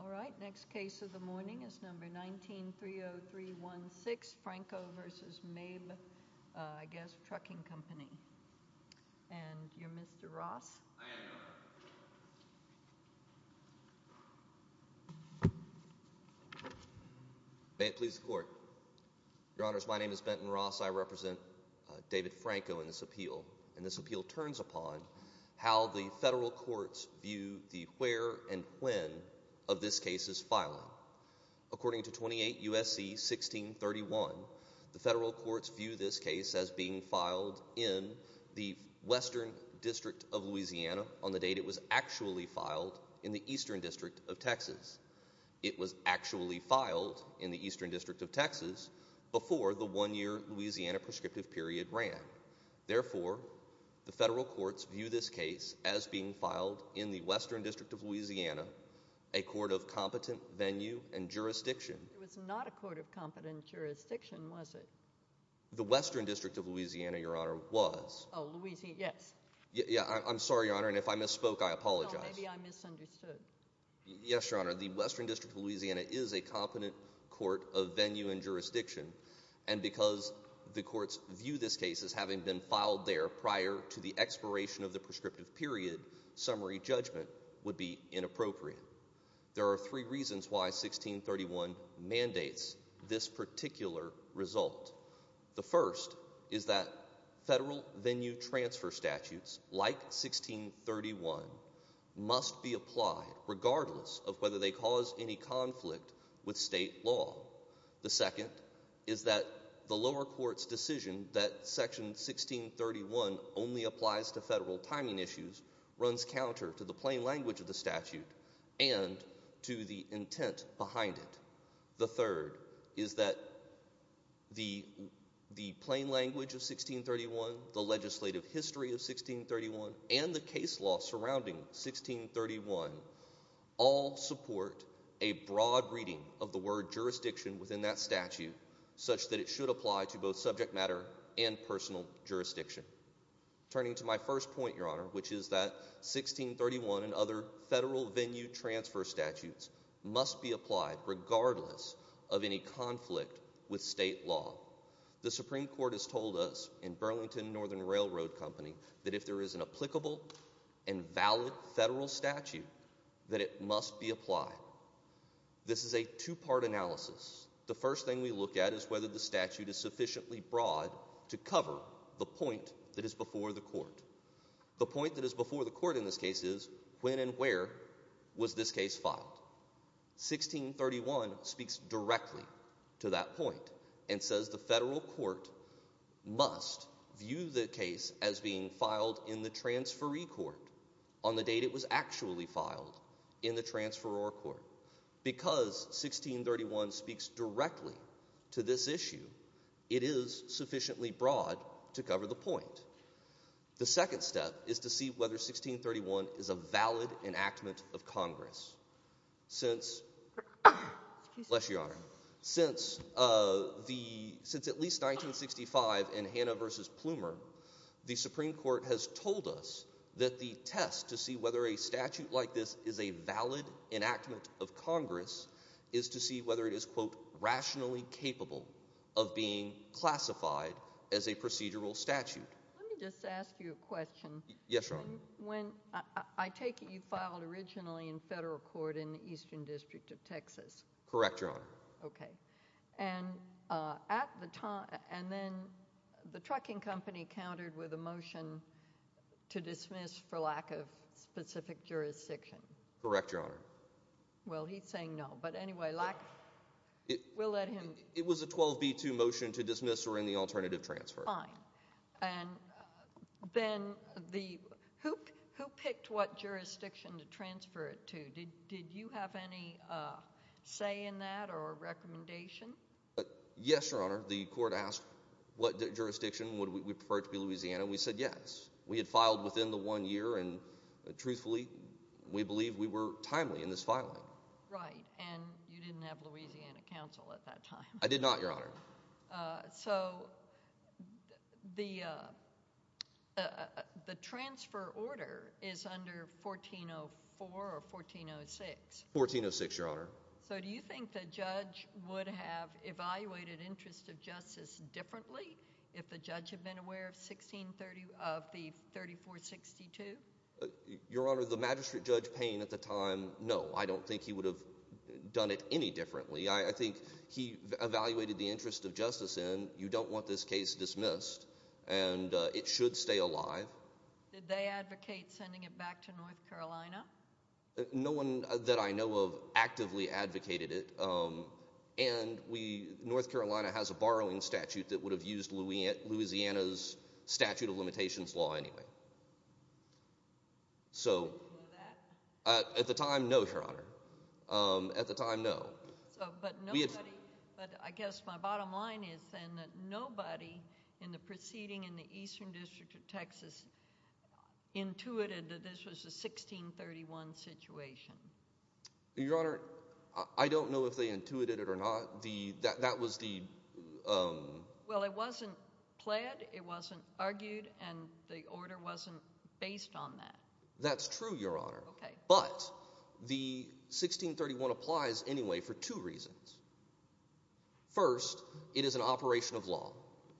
All right, next case of the morning is number 19-30316, Franco v. Mabe, I guess, Trucking Company, and you're Mr. Ross? I am, Your Honor. May it please the Court. Your Honors, my name is Benton Ross. I represent David Franco in this appeal, and this appeal turns upon how the federal courts view the where and when of this case's filing. According to 28 U.S.C. 1631, the federal courts view this case as being filed in the Western District of Louisiana on the date it was actually filed in the Eastern District of Texas. It was actually filed in the Eastern District of Texas before the one-year Louisiana prescriptive period ran. Therefore, the federal courts view this case as being filed in the There was not a court of competent jurisdiction, was it? The Western District of Louisiana, Your Honor, was. Oh, Louisiana, yes. Yeah, I'm sorry, Your Honor, and if I misspoke, I apologize. No, maybe I misunderstood. Yes, Your Honor, the Western District of Louisiana is a competent court of venue and jurisdiction, and because the courts view this case as having been filed there prior to the expiration of the prescriptive period, summary judgment would be inappropriate. There are three reasons why 1631 mandates this particular result. The first is that federal venue transfer statutes, like 1631, must be applied regardless of whether they cause any conflict with state law. The second is that the lower court's decision that section 1631 only applies to federal and to the intent behind it. The third is that the plain language of 1631, the legislative history of 1631, and the case law surrounding 1631 all support a broad reading of the word jurisdiction within that statute such that it should apply to both subject matter and personal jurisdiction. Turning to my first point, Your Honor, which is that 1631 and other federal venue transfer statutes must be applied regardless of any conflict with state law. The Supreme Court has told us in Burlington Northern Railroad Company that if there is an applicable and valid federal statute, that it must be applied. This is a two-part analysis. The first thing we look at is whether the statute is sufficiently broad to cover the point that is before the court. The point that is before the court in this case is when and where was this case filed. 1631 speaks directly to that point and says the federal court must view the case as being filed in the transferee court on the date it was actually filed in the transferor court. Because 1631 speaks directly to this issue, it is sufficiently broad to cover the point. The second step is to see whether 1631 is a valid enactment of Congress. Since at least 1965 in Hannah v. Plumer, the Supreme Court has told us that the test to see whether a statute like this is a valid enactment of Congress is to see whether it is, quote, rationally capable of being classified as a procedural statute. Let me just ask you a question. Yes, Your Honor. When, I take it you filed originally in federal court in the Eastern District of Texas? Correct, Your Honor. Okay, and at the time, and then the trucking company countered with a motion to dismiss for lack of specific jurisdiction? Correct, Your Honor. Well, he's saying no, but anyway, we'll let him. It was a 12b2 motion to dismiss or any alternative transfer. Fine, and then who picked what jurisdiction to transfer it to? Did you have any say in that or a recommendation? Yes, Your Honor. The court asked what jurisdiction, would we prefer it to be Louisiana? We said yes. We had filed within the one year, and truthfully, we believe we were timely in this filing. Right, and you didn't have Louisiana counsel at that time? I did not, Your Honor. So the transfer order is under 1404 or 1406? 1406, Your Honor. So do you think the judge would have evaluated interest of justice differently if the judge had been aware of the 3462? Your Honor, the magistrate judge Payne at the time, no, I don't think he would have done it any differently. I think he evaluated the interest of justice, and you don't want this case dismissed, and it should stay alive. Did they advocate sending it back to North Carolina? No one that I know of actively advocated it, and North Carolina has a borrowing statute that would have used Louisiana's statute of limitations law anyway. So at the time, no, Your Honor. At the time, no. But I guess my bottom line is then that nobody in the proceeding in the Eastern District of Texas intuited that this was a 1631 situation. Your Honor, I don't know if they intuited it or not. That was the— Well, it wasn't pled, it wasn't argued, and the order wasn't based on that. That's true, Your Honor. Okay. But the 1631 applies anyway for two reasons. First, it is an operation of law.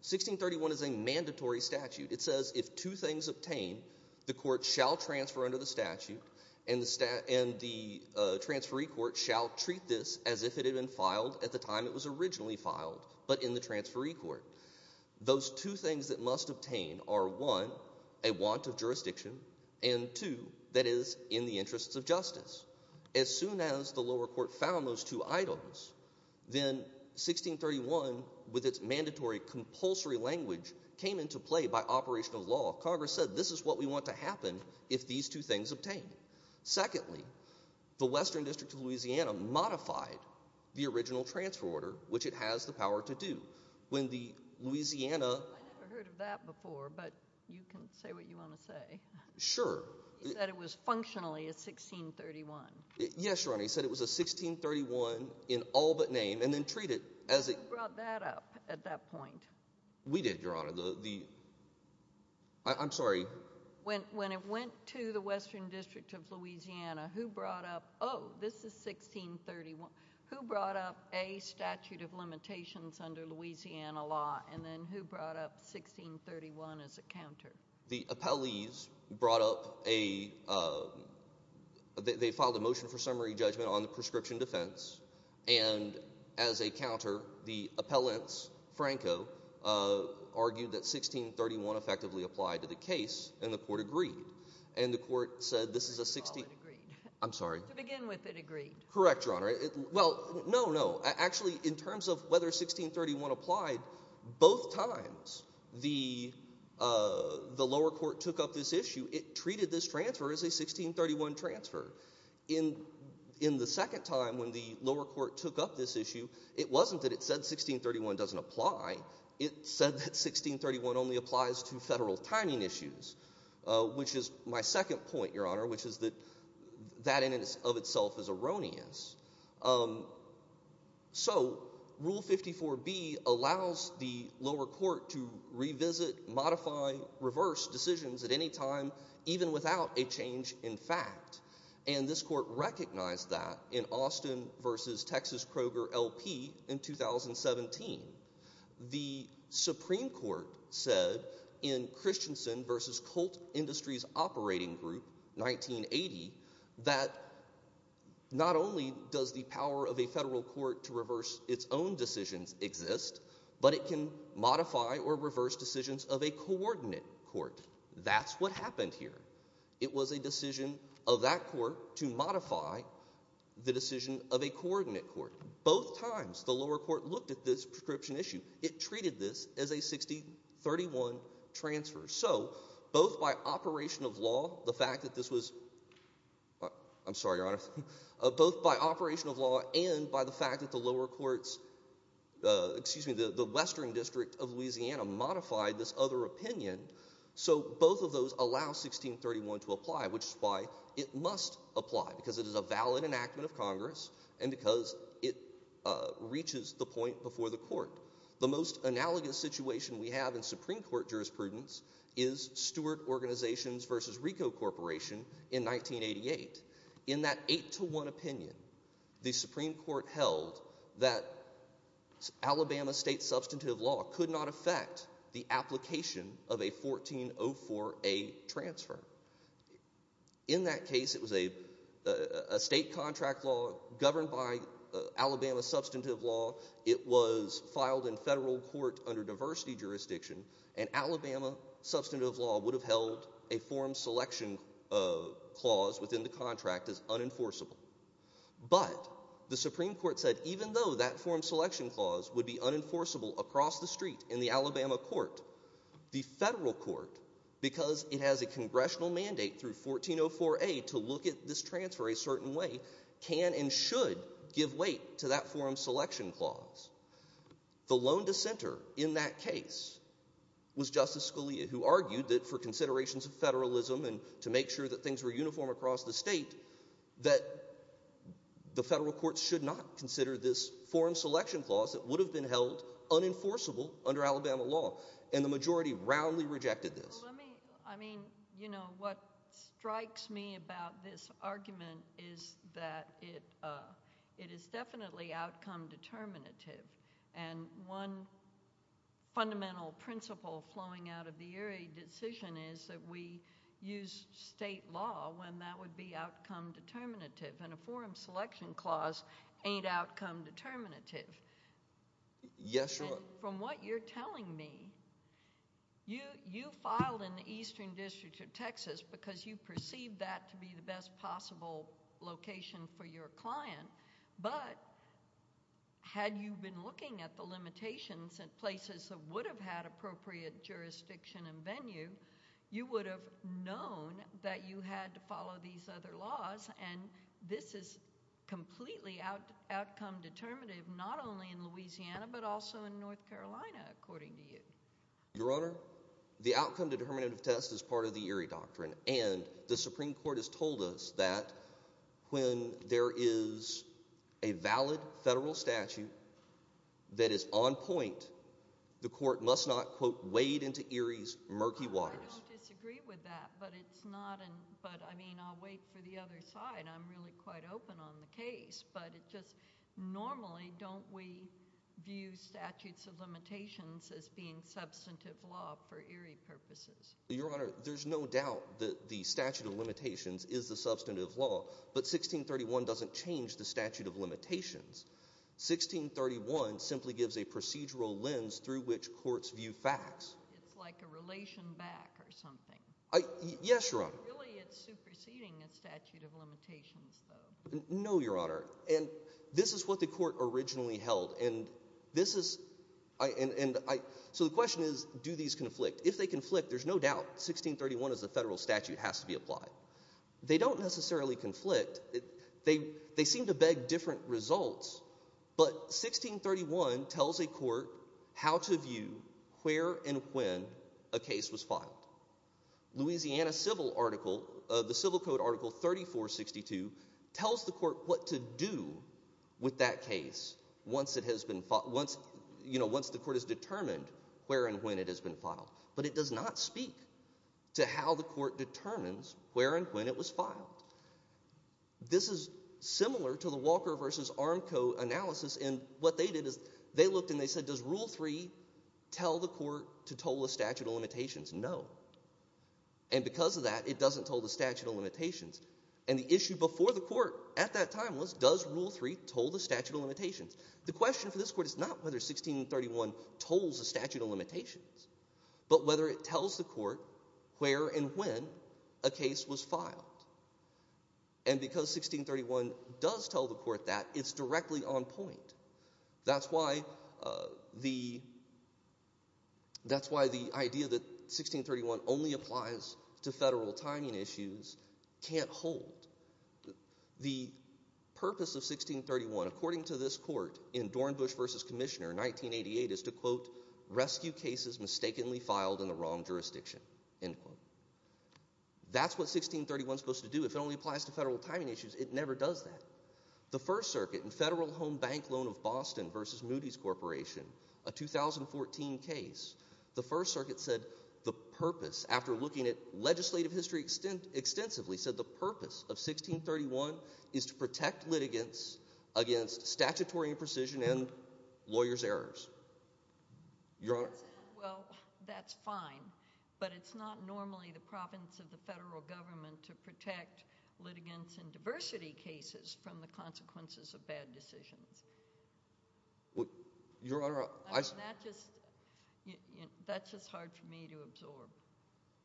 1631 is a mandatory statute. It says if two things obtain, the court shall transfer under the statute, and the transferee court shall treat this as if it had been filed at the time it was originally filed, but in the transferee court. Those two things that must obtain are, one, a want of jurisdiction, and two, that is, in the interests of justice. As soon as the lower court found those two items, then 1631, with its mandatory compulsory language, came into play by operation of law. Congress said, this is what we want to happen if these two things obtain. Secondly, the Western District of Louisiana modified the original transfer order, which it has the power to do. When the Louisiana— I never heard of that before, but you can say what you want to say. Sure. You said it was functionally a 1631. Yes, Your Honor. You said it was a 1631 in all but name, and then treated as a— Who brought that up at that point? We did, Your Honor. I'm sorry. When it went to the Western District of Louisiana, who brought up, oh, this is 1631. Who brought up, A, statute of limitations under Louisiana law, and then who brought up 1631 as a counter? The appellees brought up a—they filed a motion for summary judgment on the prescription defense, and as a counter, the appellants, Franco, argued that 1631 effectively applied to the case, and the court agreed. And the court said, this is a 16— Oh, it agreed. To begin with, it agreed. Correct, Your Honor. Well, no, no. Actually, in terms of whether 1631 applied, both times the lower court took up this issue, it treated this transfer as a 1631 transfer. In the second time when the lower court took up this issue, it wasn't that it said 1631 doesn't apply. It said that 1631 only applies to federal timing issues, which is my second point, Your Honor, which is erroneous. So Rule 54B allows the lower court to revisit, modify, reverse decisions at any time, even without a change in fact, and this court recognized that in Austin v. Texas Kroger L.P. in 2017. The Supreme Court said in Christensen v. Colt Industries Operating Group, 1980, that not only does the power of a federal court to reverse its own decisions exist, but it can modify or reverse decisions of a coordinate court. That's what happened here. It was a decision of that court to modify the decision of a coordinate court. Both times, the lower court looked at this prescription issue. It treated this as a 1631 transfer. So both by operation of law, the fact that this was, I'm sorry, Your Honor, both by operation of law and by the fact that the lower court's, excuse me, the Western District of Louisiana modified this other opinion. So both of those allow 1631 to apply, which is why it must apply, because it is a valid enactment of Congress and because it reaches the point before the court. The most analogous situation we have in Supreme Court jurisprudence is Stewart Organizations v. Ricoh Corporation in 1988. In that eight to one opinion, the Supreme Court held that Alabama state substantive law could not affect the application of a 1404A transfer. In that case, it was a state contract law governed by Alabama substantive law. It was filed in federal court under diversity jurisdiction, and Alabama substantive law would have held a form selection clause within the contract as unenforceable. But the Supreme Court said even though that form selection clause would be unenforceable across the street in the Alabama court, the federal court, because it has a congressional mandate through 1404A to look at this transfer a certain way, can and should give weight to that form selection clause. The lone dissenter in that case was Justice Scalia, who argued that for considerations of federalism and to make sure that things were uniform across the state, that the federal court should not consider this form selection clause that would have been held unenforceable under Alabama law. And the majority roundly rejected this. I mean, you know, what strikes me about this argument is that it is definitely outcome determinative. And one fundamental principle flowing out of the Erie decision is that we use state law when that would be outcome determinative. And a form selection clause ain't outcome determinative. Yes, Your Honor. From what you're telling me, you filed in the Eastern District of Texas because you perceived that to be the best possible location for your client. But had you been looking at the limitations at places that would have had appropriate jurisdiction and venue, you would have known that you had to follow these other laws. And this is completely outcome determinative, not only in Louisiana, but also in North Carolina, according to you. Your Honor, the outcome determinative test is part of the Erie doctrine. And the Supreme Court has told us that when there is a valid federal statute that is on point, the court must not, quote, wade into Erie's murky waters. I don't disagree with that. But I mean, I'll wait for the other side. I'm really quite open on the case. But normally, don't we view statutes of limitations as being substantive law for Erie purposes? Your Honor, there's no doubt that the statute of limitations is the substantive law. But 1631 doesn't change the statute of limitations. 1631 simply gives a procedural lens through which courts view facts. It's like a relation back or something. Yes, Your Honor. Really, it's superseding a statute of limitations, though. No, Your Honor. And this is what the court originally held. And so the question is, do these conflict? If they conflict, there's no doubt 1631 as a federal statute has to be applied. They don't necessarily conflict. They seem to beg different results. But 1631 tells a court how to view where and when a case was filed. Louisiana Civil Article, the Civil Code Article 3462, tells the court what to do with that case once it has been filed, once the court has determined where and when it has been filed. But it does not speak to how the court determines where and when it was filed. This is similar to the Walker v. Armco analysis. And what they did is they looked and they said, does Rule 3 tell the court to toll the statute of limitations? No. And because of that, it doesn't toll the statute of limitations. And the issue before the court at that time was, does Rule 3 toll the statute of limitations? The question for this court is not whether 1631 tolls the statute of limitations, but whether it tells the court where and when a case was filed. And because 1631 does tell the court that, it's directly on point. That's why the idea that 1631 only applies to federal timing issues can't hold. The purpose of 1631, according to this court in Dornbush v. Commissioner, 1988, is to, quote, rescue cases mistakenly filed in the wrong jurisdiction, end quote. That's what 1631 is supposed to do. If it only applies to federal timing issues, it never does that. The First Circuit in Federal Home Bank Loan of Boston v. Moody's Corporation, a 2014 case, the First Circuit said the purpose, after looking at legislative history extensively, said the purpose of 1631 is to protect litigants against statutory imprecision and lawyer's errors. Your Honor? Well, that's fine. But it's not normally the province of the federal government to protect litigants in the consequences of bad decisions. Well, Your Honor, I— That just—that's just hard for me to absorb.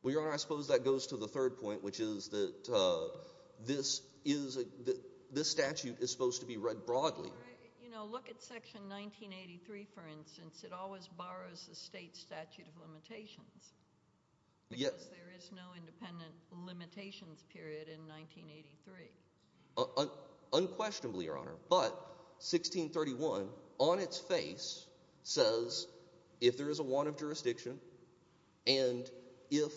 Well, Your Honor, I suppose that goes to the third point, which is that this is—this statute is supposed to be read broadly. You know, look at Section 1983, for instance. It always borrows the state statute of limitations. Yes. Because there is no independent limitations period in 1983. Unquestionably, Your Honor. But 1631, on its face, says if there is a warrant of jurisdiction and if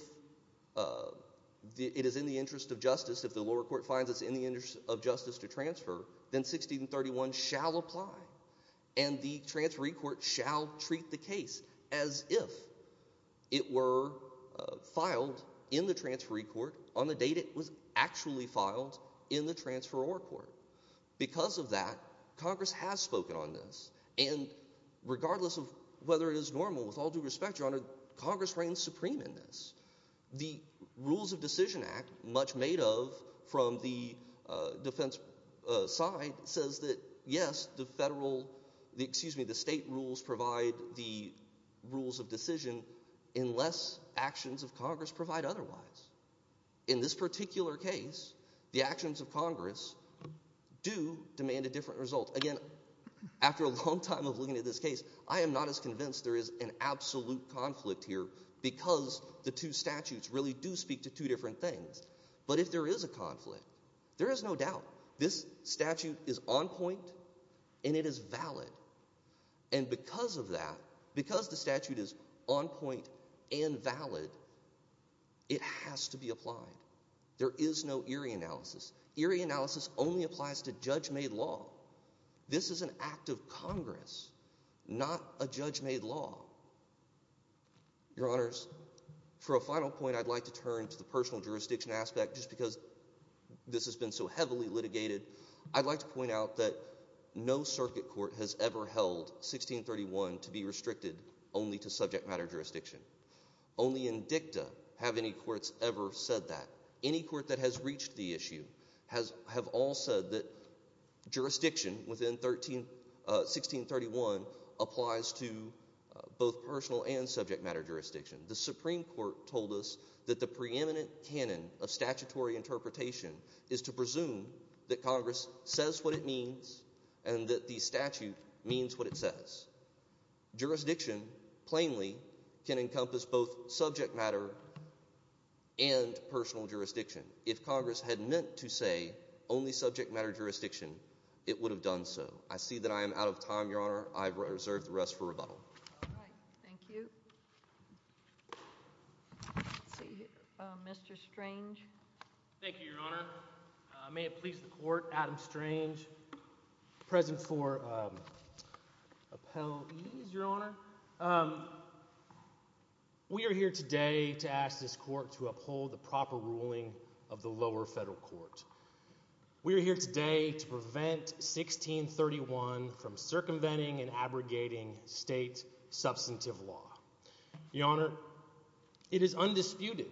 it is in the interest of justice, if the lower court finds it's in the interest of justice to transfer, then 1631 shall apply. And the transferee court shall treat the case as if it were filed in the transferee court on the date it was actually filed in the transferee court. Because of that, Congress has spoken on this. And regardless of whether it is normal, with all due respect, Your Honor, Congress reigns supreme in this. The Rules of Decision Act, much made of from the defense side, says that yes, the federal—excuse me, the state rules provide the rules of decision unless actions of Congress provide otherwise. In this particular case, the actions of Congress do demand a different result. Again, after a long time of looking at this case, I am not as convinced there is an absolute conflict here because the two statutes really do speak to two different things. But if there is a conflict, there is no doubt this statute is on point and it is valid. And because of that, because the statute is on point and valid, it has to be applied. There is no Erie analysis. Erie analysis only applies to judge-made law. This is an act of Congress, not a judge-made law. Your Honors, for a final point, I'd like to turn to the personal jurisdiction aspect. Just because this has been so heavily litigated, I'd like to point out that no circuit court has ever held 1631 to be restricted only to subject matter jurisdiction. Only in dicta have any courts ever said that. Any court that has reached the issue have all said that jurisdiction within 1631 applies to both personal and subject matter jurisdiction. The Supreme Court told us that the preeminent canon of statutory interpretation is to presume that Congress says what it means and that the statute means what it says. Jurisdiction, plainly, can encompass both subject matter and personal jurisdiction. If Congress had meant to say only subject matter jurisdiction, it would have done so. I see that I am out of time, Your Honor. I reserve the rest for rebuttal. All right. Thank you. Let's see here. Mr. Strange. Thank you, Your Honor. May it please the Court, Adam Strange, present for appellees, Your Honor. We are here today to ask this Court to uphold the proper ruling of the lower federal court. We are here today to prevent 1631 from circumventing and abrogating state substantive law. Your Honor, it is undisputed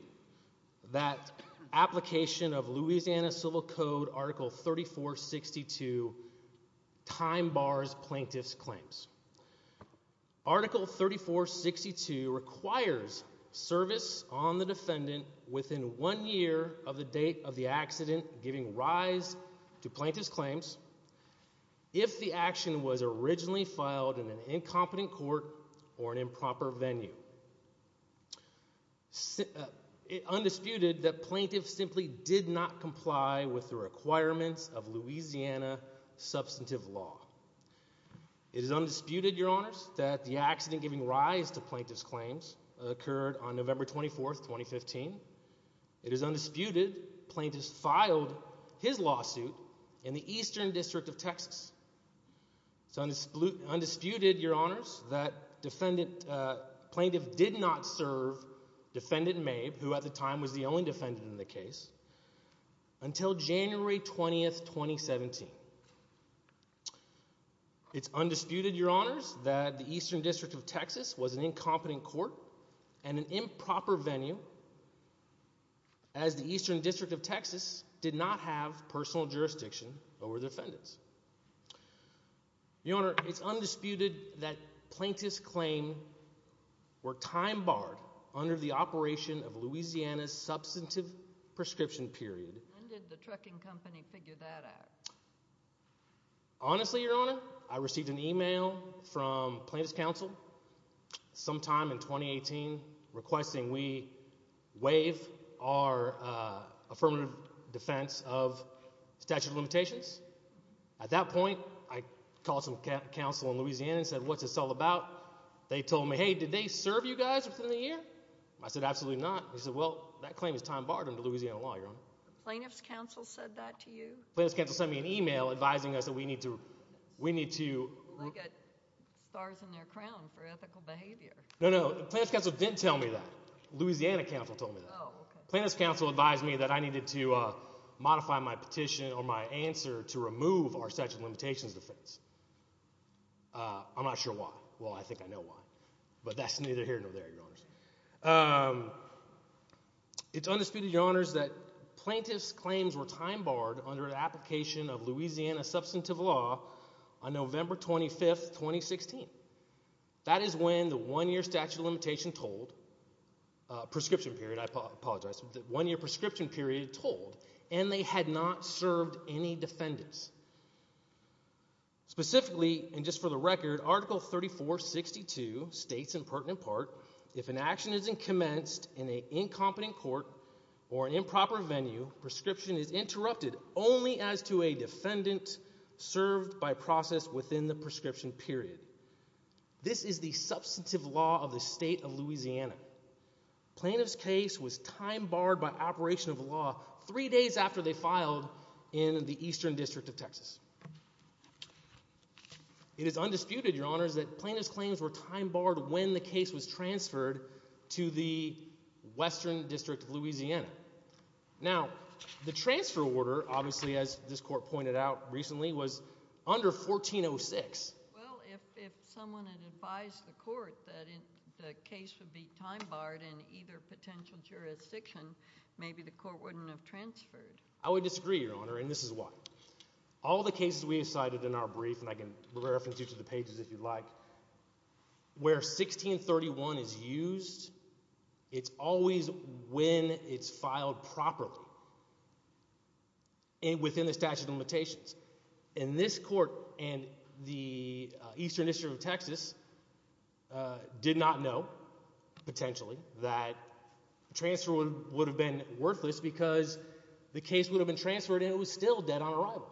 that application of Louisiana Civil Code Article 3462 time bars plaintiff's claims. Article 3462 requires service on the defendant within one year of the date of the accident, if the action was originally filed in an incompetent court or an improper venue. It is undisputed that plaintiff simply did not comply with the requirements of Louisiana substantive law. It is undisputed, Your Honors, that the accident giving rise to plaintiff's claims occurred on November 24, 2015. It is undisputed plaintiff's filed his lawsuit in the Eastern District of Texas. It's undisputed, Your Honors, that defendant plaintiff did not serve defendant Mabe, who at the time was the only defendant in the case, until January 20, 2017. It's undisputed, Your Honors, that the Eastern District of Texas was an incompetent court and an improper venue, as the Eastern District of Texas did not have personal jurisdiction over the defendants. Your Honor, it's undisputed that plaintiff's claims were time barred under the operation of Louisiana's substantive prescription period. When did the trucking company figure that out? Honestly, Your Honor, I received an email from plaintiff's counsel sometime in 2018 requesting we waive our affirmative defense of statute of limitations. At that point, I called some counsel in Louisiana and said, what's this all about? They told me, hey, did they serve you guys within the year? I said, absolutely not. He said, well, that claim is time barred under Louisiana law, Your Honor. Plaintiff's counsel said that to you? Plaintiff's counsel sent me an email advising us that we need to, we need to... They get stars in their crown for ethical behavior. No, no, plaintiff's counsel didn't tell me that. Louisiana counsel told me that. Plaintiff's counsel advised me that I needed to modify my petition or my answer to remove our statute of limitations defense. I'm not sure why. Well, I think I know why. But that's neither here nor there, Your Honors. It's undisputed, Your Honors, that plaintiff's claims were time barred under an application of Louisiana substantive law on November 25th, 2016. That is when the one-year statute of limitation told, prescription period, I apologize, the one-year prescription period told, and they had not served any defendants. Specifically, and just for the record, Article 3462 states in pertinent part, if an action isn't commenced in a incompetent court or an improper venue, prescription is interrupted only as to a defendant served by process within the prescription period. This is the substantive law of the state of Louisiana. Plaintiff's case was time barred by operation of law three days after they filed in the Eastern District of Texas. It is undisputed, Your Honors, that plaintiff's claims were time barred when the case was transferred to the Western District of Louisiana. Now, the transfer order, obviously, as this court pointed out recently, was under 1406. Well, if someone had advised the court that the case would be time barred in either potential jurisdiction, maybe the court wouldn't have transferred. I would disagree, Your Honor, and this is why. All the cases we have cited in our brief, and I can reference you to the pages if you'd like, where 1631 is used, it's always when it's filed properly and within the statute of limitations. And this court and the Eastern District of Texas did not know, potentially, that the transfer would have been worthless because the case would have been transferred and it was still dead on arrival.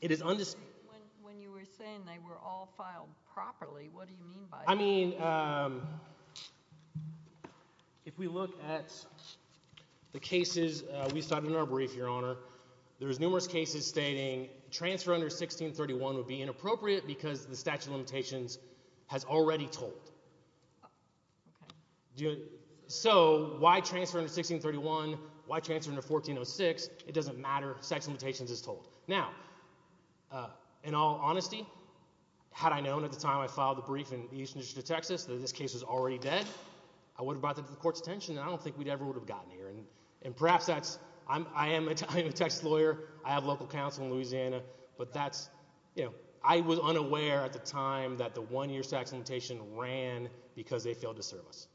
It is undisputed. When you were saying they were all filed properly, what do you mean by that? I mean, if we look at the cases we cited in our brief, Your Honor, there's numerous cases stating transfer under 1631 would be inappropriate because the statute of limitations has already told. So, why transfer under 1631, why transfer under 1406, it doesn't matter. The statute of limitations has told. Now, in all honesty, had I known at the time I filed the brief in the Eastern District of Texas that this case was already dead, I would have brought that to the court's attention and I don't think we ever would have gotten here. And perhaps that's, I am a Texas lawyer, I have local counsel in Louisiana, but that's, you know, I was unaware at the time that the one-year tax limitation ran because they failed to serve us.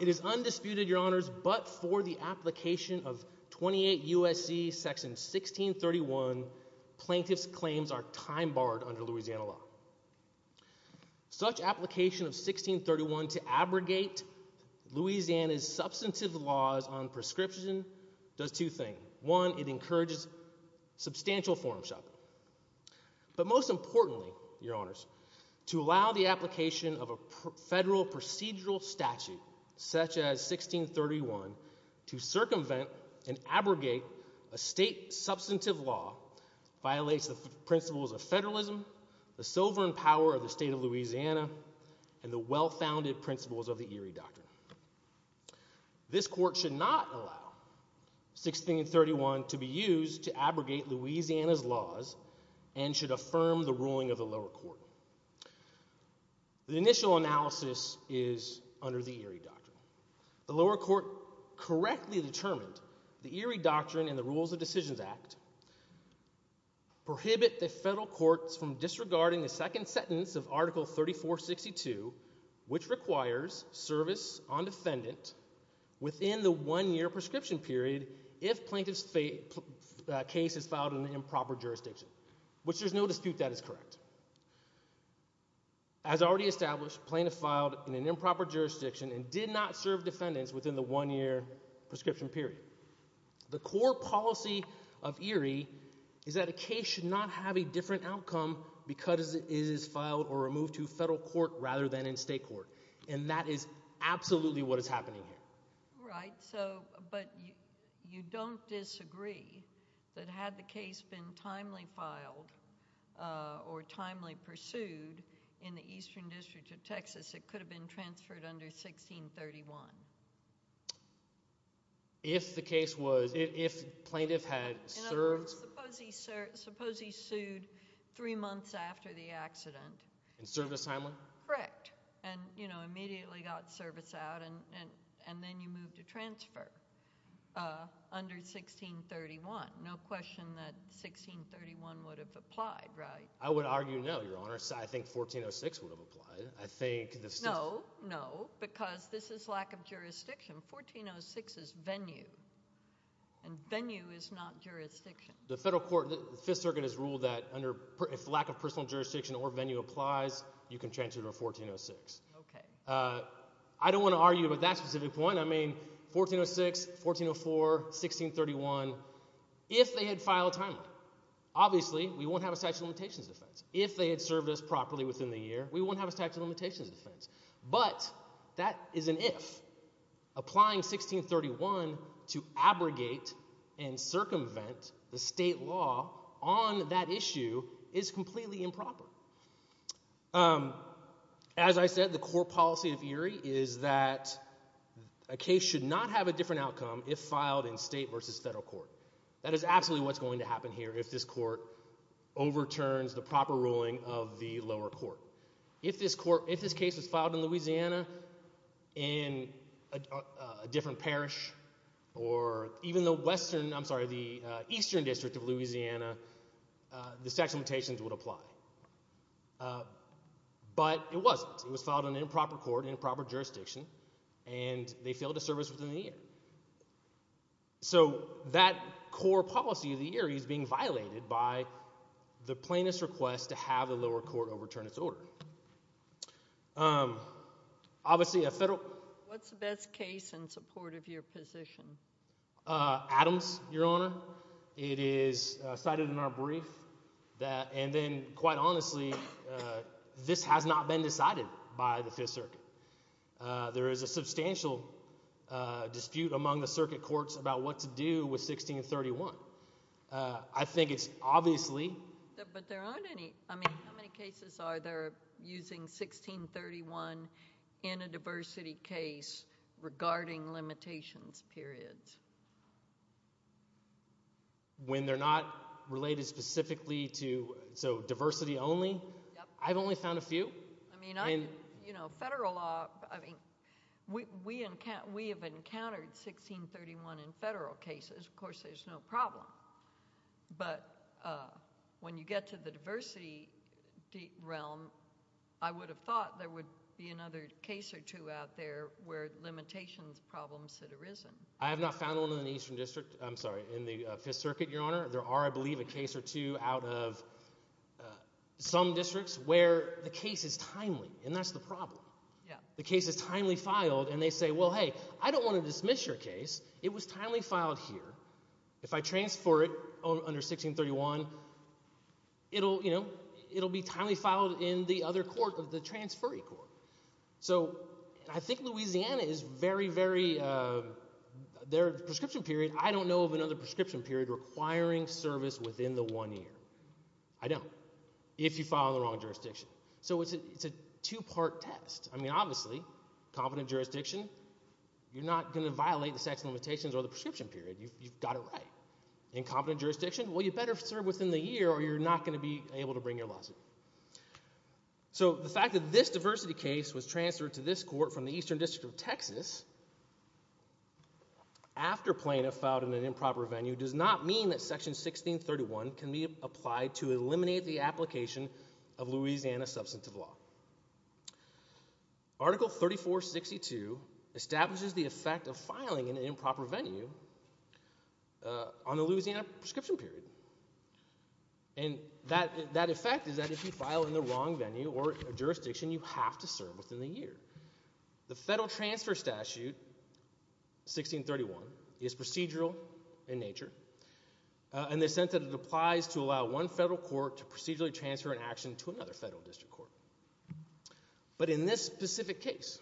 It is undisputed, Your Honors, but for the application of 28 U.S.C. section 1631, plaintiff's claims are time-barred under Louisiana law. Such application of 1631 to abrogate Louisiana's substantive laws on prescription does two things. One, it encourages substantial form shopping. But most importantly, Your Honors, to allow the application of a federal procedural statute such as 1631 to circumvent and abrogate a state substantive law violates the principles of federalism, the sovereign power of the state of Louisiana, and the well-founded principles of the Erie Doctrine. This court should not allow 1631 to be used to abrogate Louisiana's laws and should affirm the ruling of the lower court. The initial analysis is under the Erie Doctrine. The lower court correctly determined the Erie Doctrine and the Rules of Decisions Act prohibit the federal courts from disregarding the second sentence of Article 3462, which requires service on defendant within the one-year prescription period if plaintiff's case is filed in an improper jurisdiction, which there's no dispute that is correct. As already established, plaintiff filed in an improper jurisdiction and did not serve defendants within the one-year prescription period. The core policy of Erie is that a case should not have a different outcome because it is filed or removed to federal court rather than in state court, and that is absolutely what is happening here. Right, so, but you don't disagree that had the case been timely filed or timely pursued in the Eastern District of Texas, it could have been transferred under 1631? If the case was, if plaintiff had served... And served a timely? Correct. And, you know, immediately got service out and then you moved to transfer under 1631. No question that 1631 would have applied, right? I would argue no, Your Honor. I think 1406 would have applied. I think... No, no, because this is lack of jurisdiction. 1406 is venue, and venue is not jurisdiction. The federal court, the Fifth Circuit has ruled that under, if lack of personal jurisdiction or venue applies, you can transfer to 1406. Okay. I don't want to argue with that specific point. I mean, 1406, 1404, 1631, if they had filed timely, obviously, we won't have a statute of limitations defense. If they had served us properly within the year, we won't have a statute of limitations defense, but that is an if. Applying 1631 to abrogate and circumvent the state law on that issue is completely improper. As I said, the core policy of Erie is that a case should not have a different outcome if filed in state versus federal court. That is absolutely what's going to happen here if this court overturns the proper ruling of the lower court. If this case was filed in Louisiana, in a different parish, or even the western, I'm sorry, the eastern district of Louisiana, the statute of limitations would apply. But it wasn't. It was filed in an improper court, improper jurisdiction, and they failed to serve us within the year. So that core policy of the Erie is being violated by the plaintiff's request to have the lower court overturn its order. Obviously, a federal... What's the best case in support of your position? Adams, Your Honor. It is cited in our brief. And then, quite honestly, this has not been decided by the Fifth Circuit. There is a substantial dispute among the circuit courts about what to do with 1631. I think it's obviously... But there aren't any... I mean, how many cases are there using 1631 in a diversity case regarding limitations periods? When they're not related specifically to... So diversity only? I've only found a few. I mean, you know, federal law... I mean, we have encountered 1631 in federal cases. Of course, there's no problem. But when you get to the diversity realm, I would have thought there would be another case or two out there where limitations problems had arisen. I have not found one in the Eastern District. I'm sorry, in the Fifth Circuit, Your Honor. There are, I believe, a case or two out of some districts where the case is timely. And that's the problem. Yeah. The case is timely filed, and they say, well, hey, I don't want to dismiss your case. It was timely filed here. If I transfer it under 1631, it'll be timely filed in the other court of the transferee court. So I think Louisiana is very, very... Their prescription period, I don't know of another prescription period requiring service within the one year. I don't, if you file in the wrong jurisdiction. So it's a two-part test. I mean, obviously, competent jurisdiction, you're not going to violate the sex limitations or the prescription period. You've got it right. Incompetent jurisdiction, well, you better serve within the year or you're not going to be able to bring your lawsuit. So the fact that this diversity case was transferred to this court from the Eastern District of Texas after plaintiff filed in an improper venue does not mean that section 1631 can be applied to eliminate the application of Louisiana substantive law. Article 3462 establishes the effect of filing in an improper venue on a Louisiana prescription period. And that effect is that if you file in the wrong venue or jurisdiction, you have to serve within the year. The federal transfer statute, 1631, is procedural in nature in the sense that it applies to allow one federal court to procedurally transfer an action to another federal district court. But in this specific case,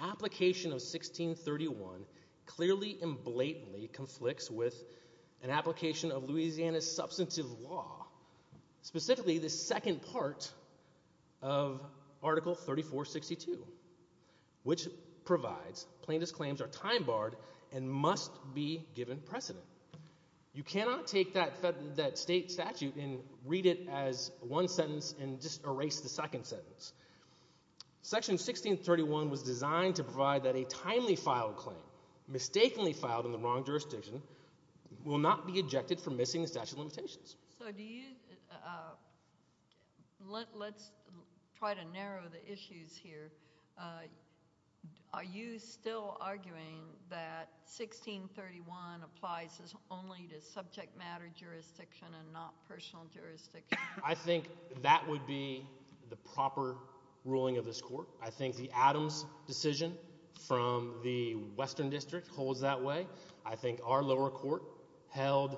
application of 1631 clearly and blatantly conflicts with an application of Louisiana's substantive law, specifically the second part of Article 3462, which provides plaintiff's claims are time barred and must be given precedent. You cannot take that state statute and read it as one sentence and just erase the second sentence. Section 1631 was designed to provide that a timely filed claim, mistakenly filed in the wrong jurisdiction, will not be ejected for missing the statute of limitations. So do you, let's try to narrow the issues here. Are you still arguing that 1631 applies only to subject matter jurisdiction and not personal jurisdiction? I think that would be the proper ruling of this court. I think the Adams decision from the Western District holds that way. I think our lower court held,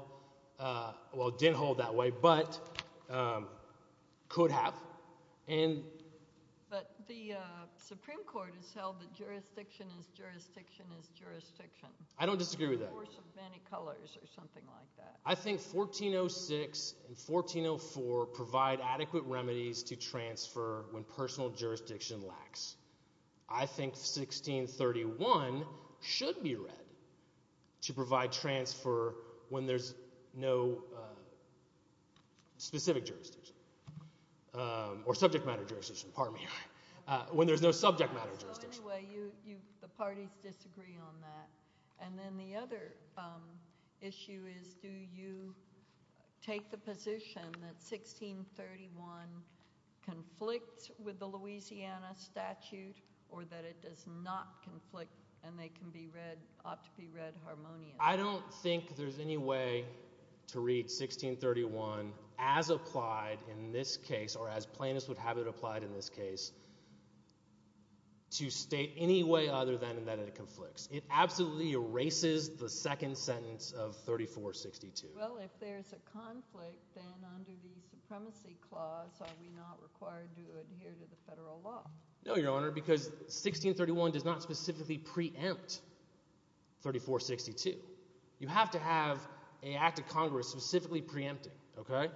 well, didn't hold that way, but could have. But the Supreme Court has held that jurisdiction is jurisdiction is jurisdiction. I don't disagree with that. The force of many colors or something like that. I think 1406 and 1404 provide adequate remedies to transfer when personal jurisdiction lacks. I think 1631 should be read to provide transfer when there's no specific jurisdiction or subject matter jurisdiction, pardon me, when there's no subject matter jurisdiction. So anyway, the parties disagree on that. And then the other issue is, do you take the position that 1631 conflicts with the Louisiana statute or that it does not conflict and they can be read, ought to be read harmoniously? I don't think there's any way to read 1631 as applied in this case or as plaintiffs would have it applied in this case to state any way other than that it conflicts. It absolutely erases the second sentence of 3462. Well, if there's a conflict, then under the supremacy clause, are we not required to adhere to the federal law? No, Your Honor, because 1631 does not specifically preempt 3462. You have to have a act of Congress specifically preempting. OK,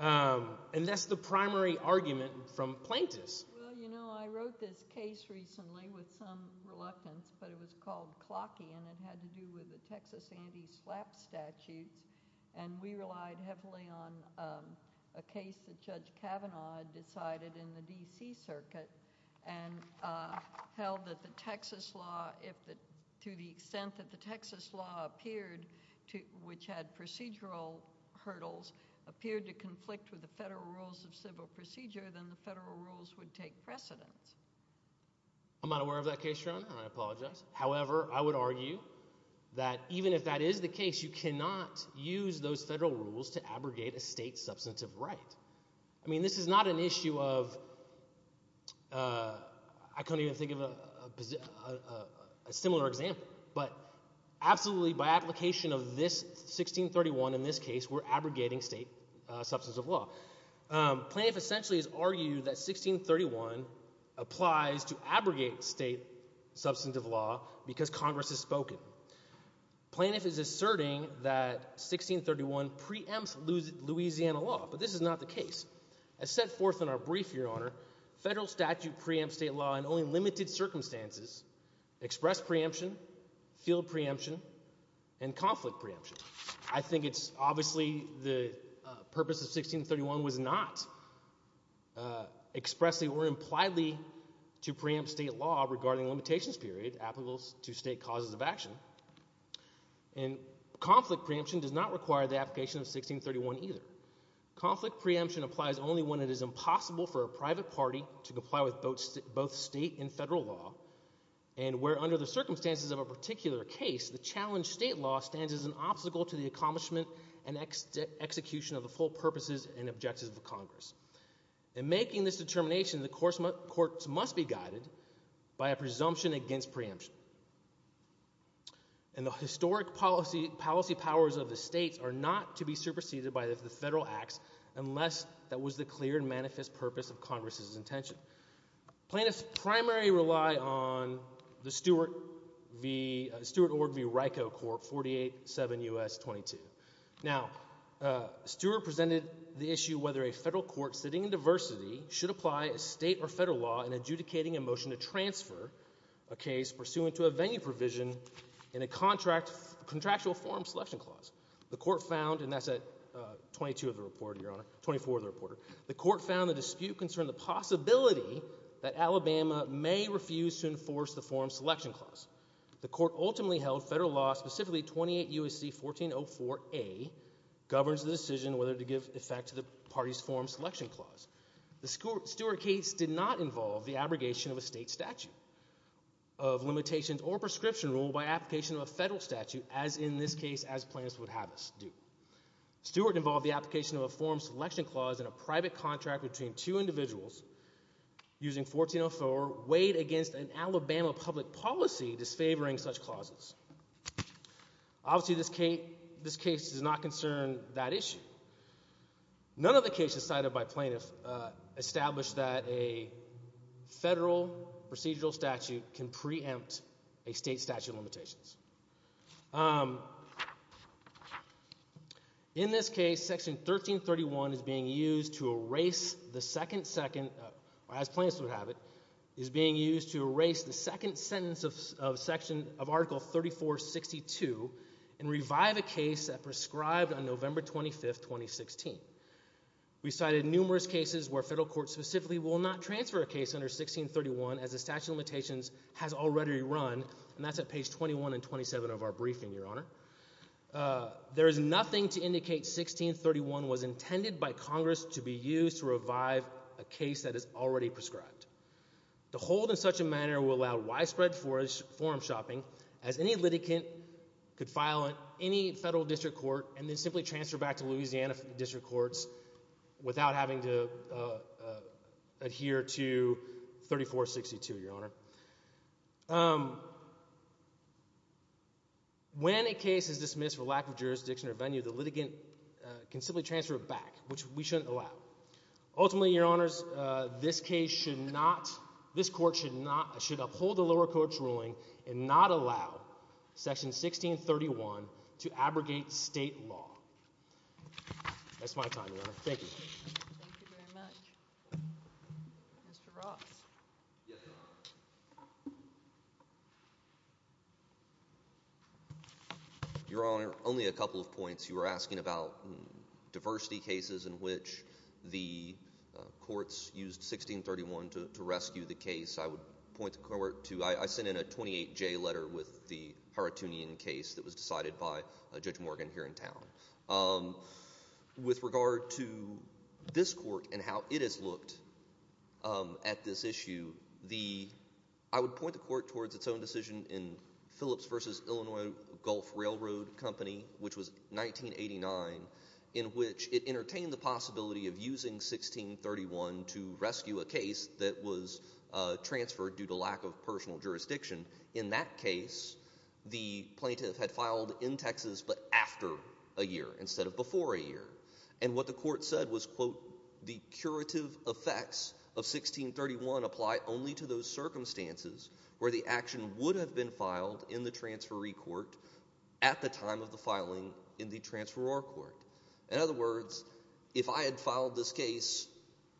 and that's the primary argument from plaintiffs. Well, you know, I wrote this case recently with some reluctance, but it was called Clocky and it had to do with the Texas anti-slap statutes. And we relied heavily on a case that Judge Kavanaugh decided in the D.C. Circuit and held that the Texas law, to the extent that the Texas law appeared, which had procedural hurdles, appeared to conflict with the federal rules of civil procedure, then the federal rules would take precedence. I'm not aware of that case, Your Honor, and I apologize. However, I would argue that even if that is the case, you cannot use those federal rules to abrogate a state substantive right. I mean, this is not an issue of, I can't even think of a similar example, but absolutely by application of this 1631 in this case, we're abrogating state substance of law. Plaintiff essentially has argued that 1631 applies to abrogate state substantive law because Congress has spoken. Plaintiff is asserting that 1631 preempts Louisiana law, but this is not the case. As set forth in our brief, Your Honor, federal statute preempts state law in only limited circumstances, express preemption, field preemption, and conflict preemption. I think it's obviously the purpose of 1631 was not expressing or impliedly to preempt state law regarding limitations period applicable to state causes of action, and conflict preemption does not require the application of 1631 either. Conflict preemption applies only when it is impossible for a private party to comply with both state and federal law, and where under the circumstances of a particular case, the plaintiff is an obstacle to the accomplishment and execution of the full purposes and objectives of Congress. In making this determination, the courts must be guided by a presumption against preemption, and the historic policy powers of the states are not to be superseded by the federal acts unless that was the clear and manifest purpose of Congress's intention. Plaintiffs primarily rely on the Stewart v. Ryko Court, 48-7 U.S. 22. Now, Stewart presented the issue whether a federal court sitting in diversity should apply a state or federal law in adjudicating a motion to transfer a case pursuant to a venue provision in a contractual forum selection clause. The court found, and that's at 22 of the report, Your Honor, 24 of the report. The court found the dispute concerned the possibility that Alabama may refuse to enforce the forum selection clause. The court ultimately held federal law, specifically 28 U.S.C. 1404A, governs the decision whether to give effect to the party's forum selection clause. The Stewart case did not involve the abrogation of a state statute of limitations or prescription rule by application of a federal statute, as in this case, as plaintiffs would have us do. Stewart involved the application of a forum selection clause in a private contract between two individuals using 1404 weighed against an Alabama public policy disfavoring such clauses. Obviously, this case does not concern that issue. None of the cases cited by plaintiffs established that a federal procedural statute can preempt a state statute of limitations. Um, in this case, section 1331 is being used to erase the second second, as plaintiffs would have it, is being used to erase the second sentence of section of article 3462 and revive a case that prescribed on November 25, 2016. We cited numerous cases where federal courts specifically will not transfer a case under 1631 as a statute of limitations has already run. And that's at page 21 and 27 of our briefing, Your Honor. There is nothing to indicate 1631 was intended by Congress to be used to revive a case that is already prescribed. The hold in such a manner will allow widespread forum shopping as any litigant could file on any federal district court and then simply transfer back to Louisiana district courts without having to adhere to 3462, Your Honor. When a case is dismissed for lack of jurisdiction or venue, the litigant can simply transfer back, which we shouldn't allow. Ultimately, Your Honors, this case should not, this court should not, should uphold the lower court's ruling and not allow section 1631 to abrogate state law. That's my time, Your Honor. Thank you. Thank you very much. Mr. Ross. Your Honor, only a couple of points. You were asking about diversity cases in which the courts used 1631 to rescue the case. I would point the court to, I sent in a 28-J letter with the Haratunian case that was decided by Judge Morgan here in town. Um, with regard to this court and how it has looked, um, at this issue, the, I would point the court towards its own decision in Phillips versus Illinois Gulf Railroad Company, which was 1989, in which it entertained the possibility of using 1631 to rescue a case that was, uh, transferred due to lack of personal jurisdiction. In that case, the plaintiff had filed in Texas, but after a year instead of before a year. And what the court said was, quote, the curative effects of 1631 apply only to those circumstances where the action would have been filed in the transferee court at the time of the filing in the transferor court. In other words, if I had filed this case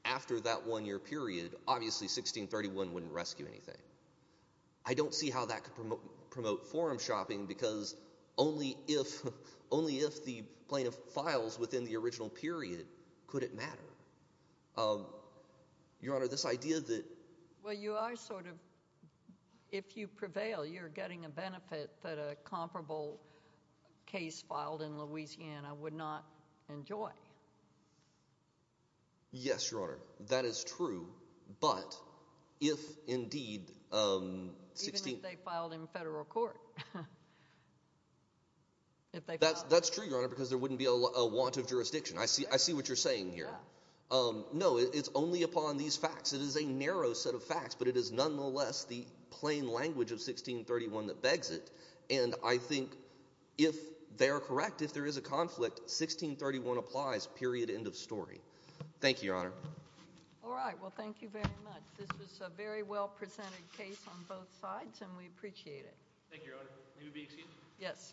after that one year period, obviously 1631 wouldn't rescue anything. I don't see how that could promote, promote forum shopping because only if, only if the plaintiff files within the original period, could it matter? Um, Your Honor, this idea that. Well, you are sort of, if you prevail, you're getting a benefit that a comparable case filed in Louisiana would not enjoy. Yes, Your Honor, that is true. But if indeed, um, 16, they filed in federal court, if that's, that's true, Your Honor, because there wouldn't be a lot of want of jurisdiction. I see, I see what you're saying here. Um, no, it's only upon these facts. It is a narrow set of facts, but it is nonetheless the plain language of 1631 that begs it. And I think if they are correct, if there is a conflict, 1631 applies. Period. End of story. Thank you, Your Honor. All right. Well, thank you very much. This was a very well presented case on both sides and we appreciate it. Thank you, Your Honor. May we be excused? Yes.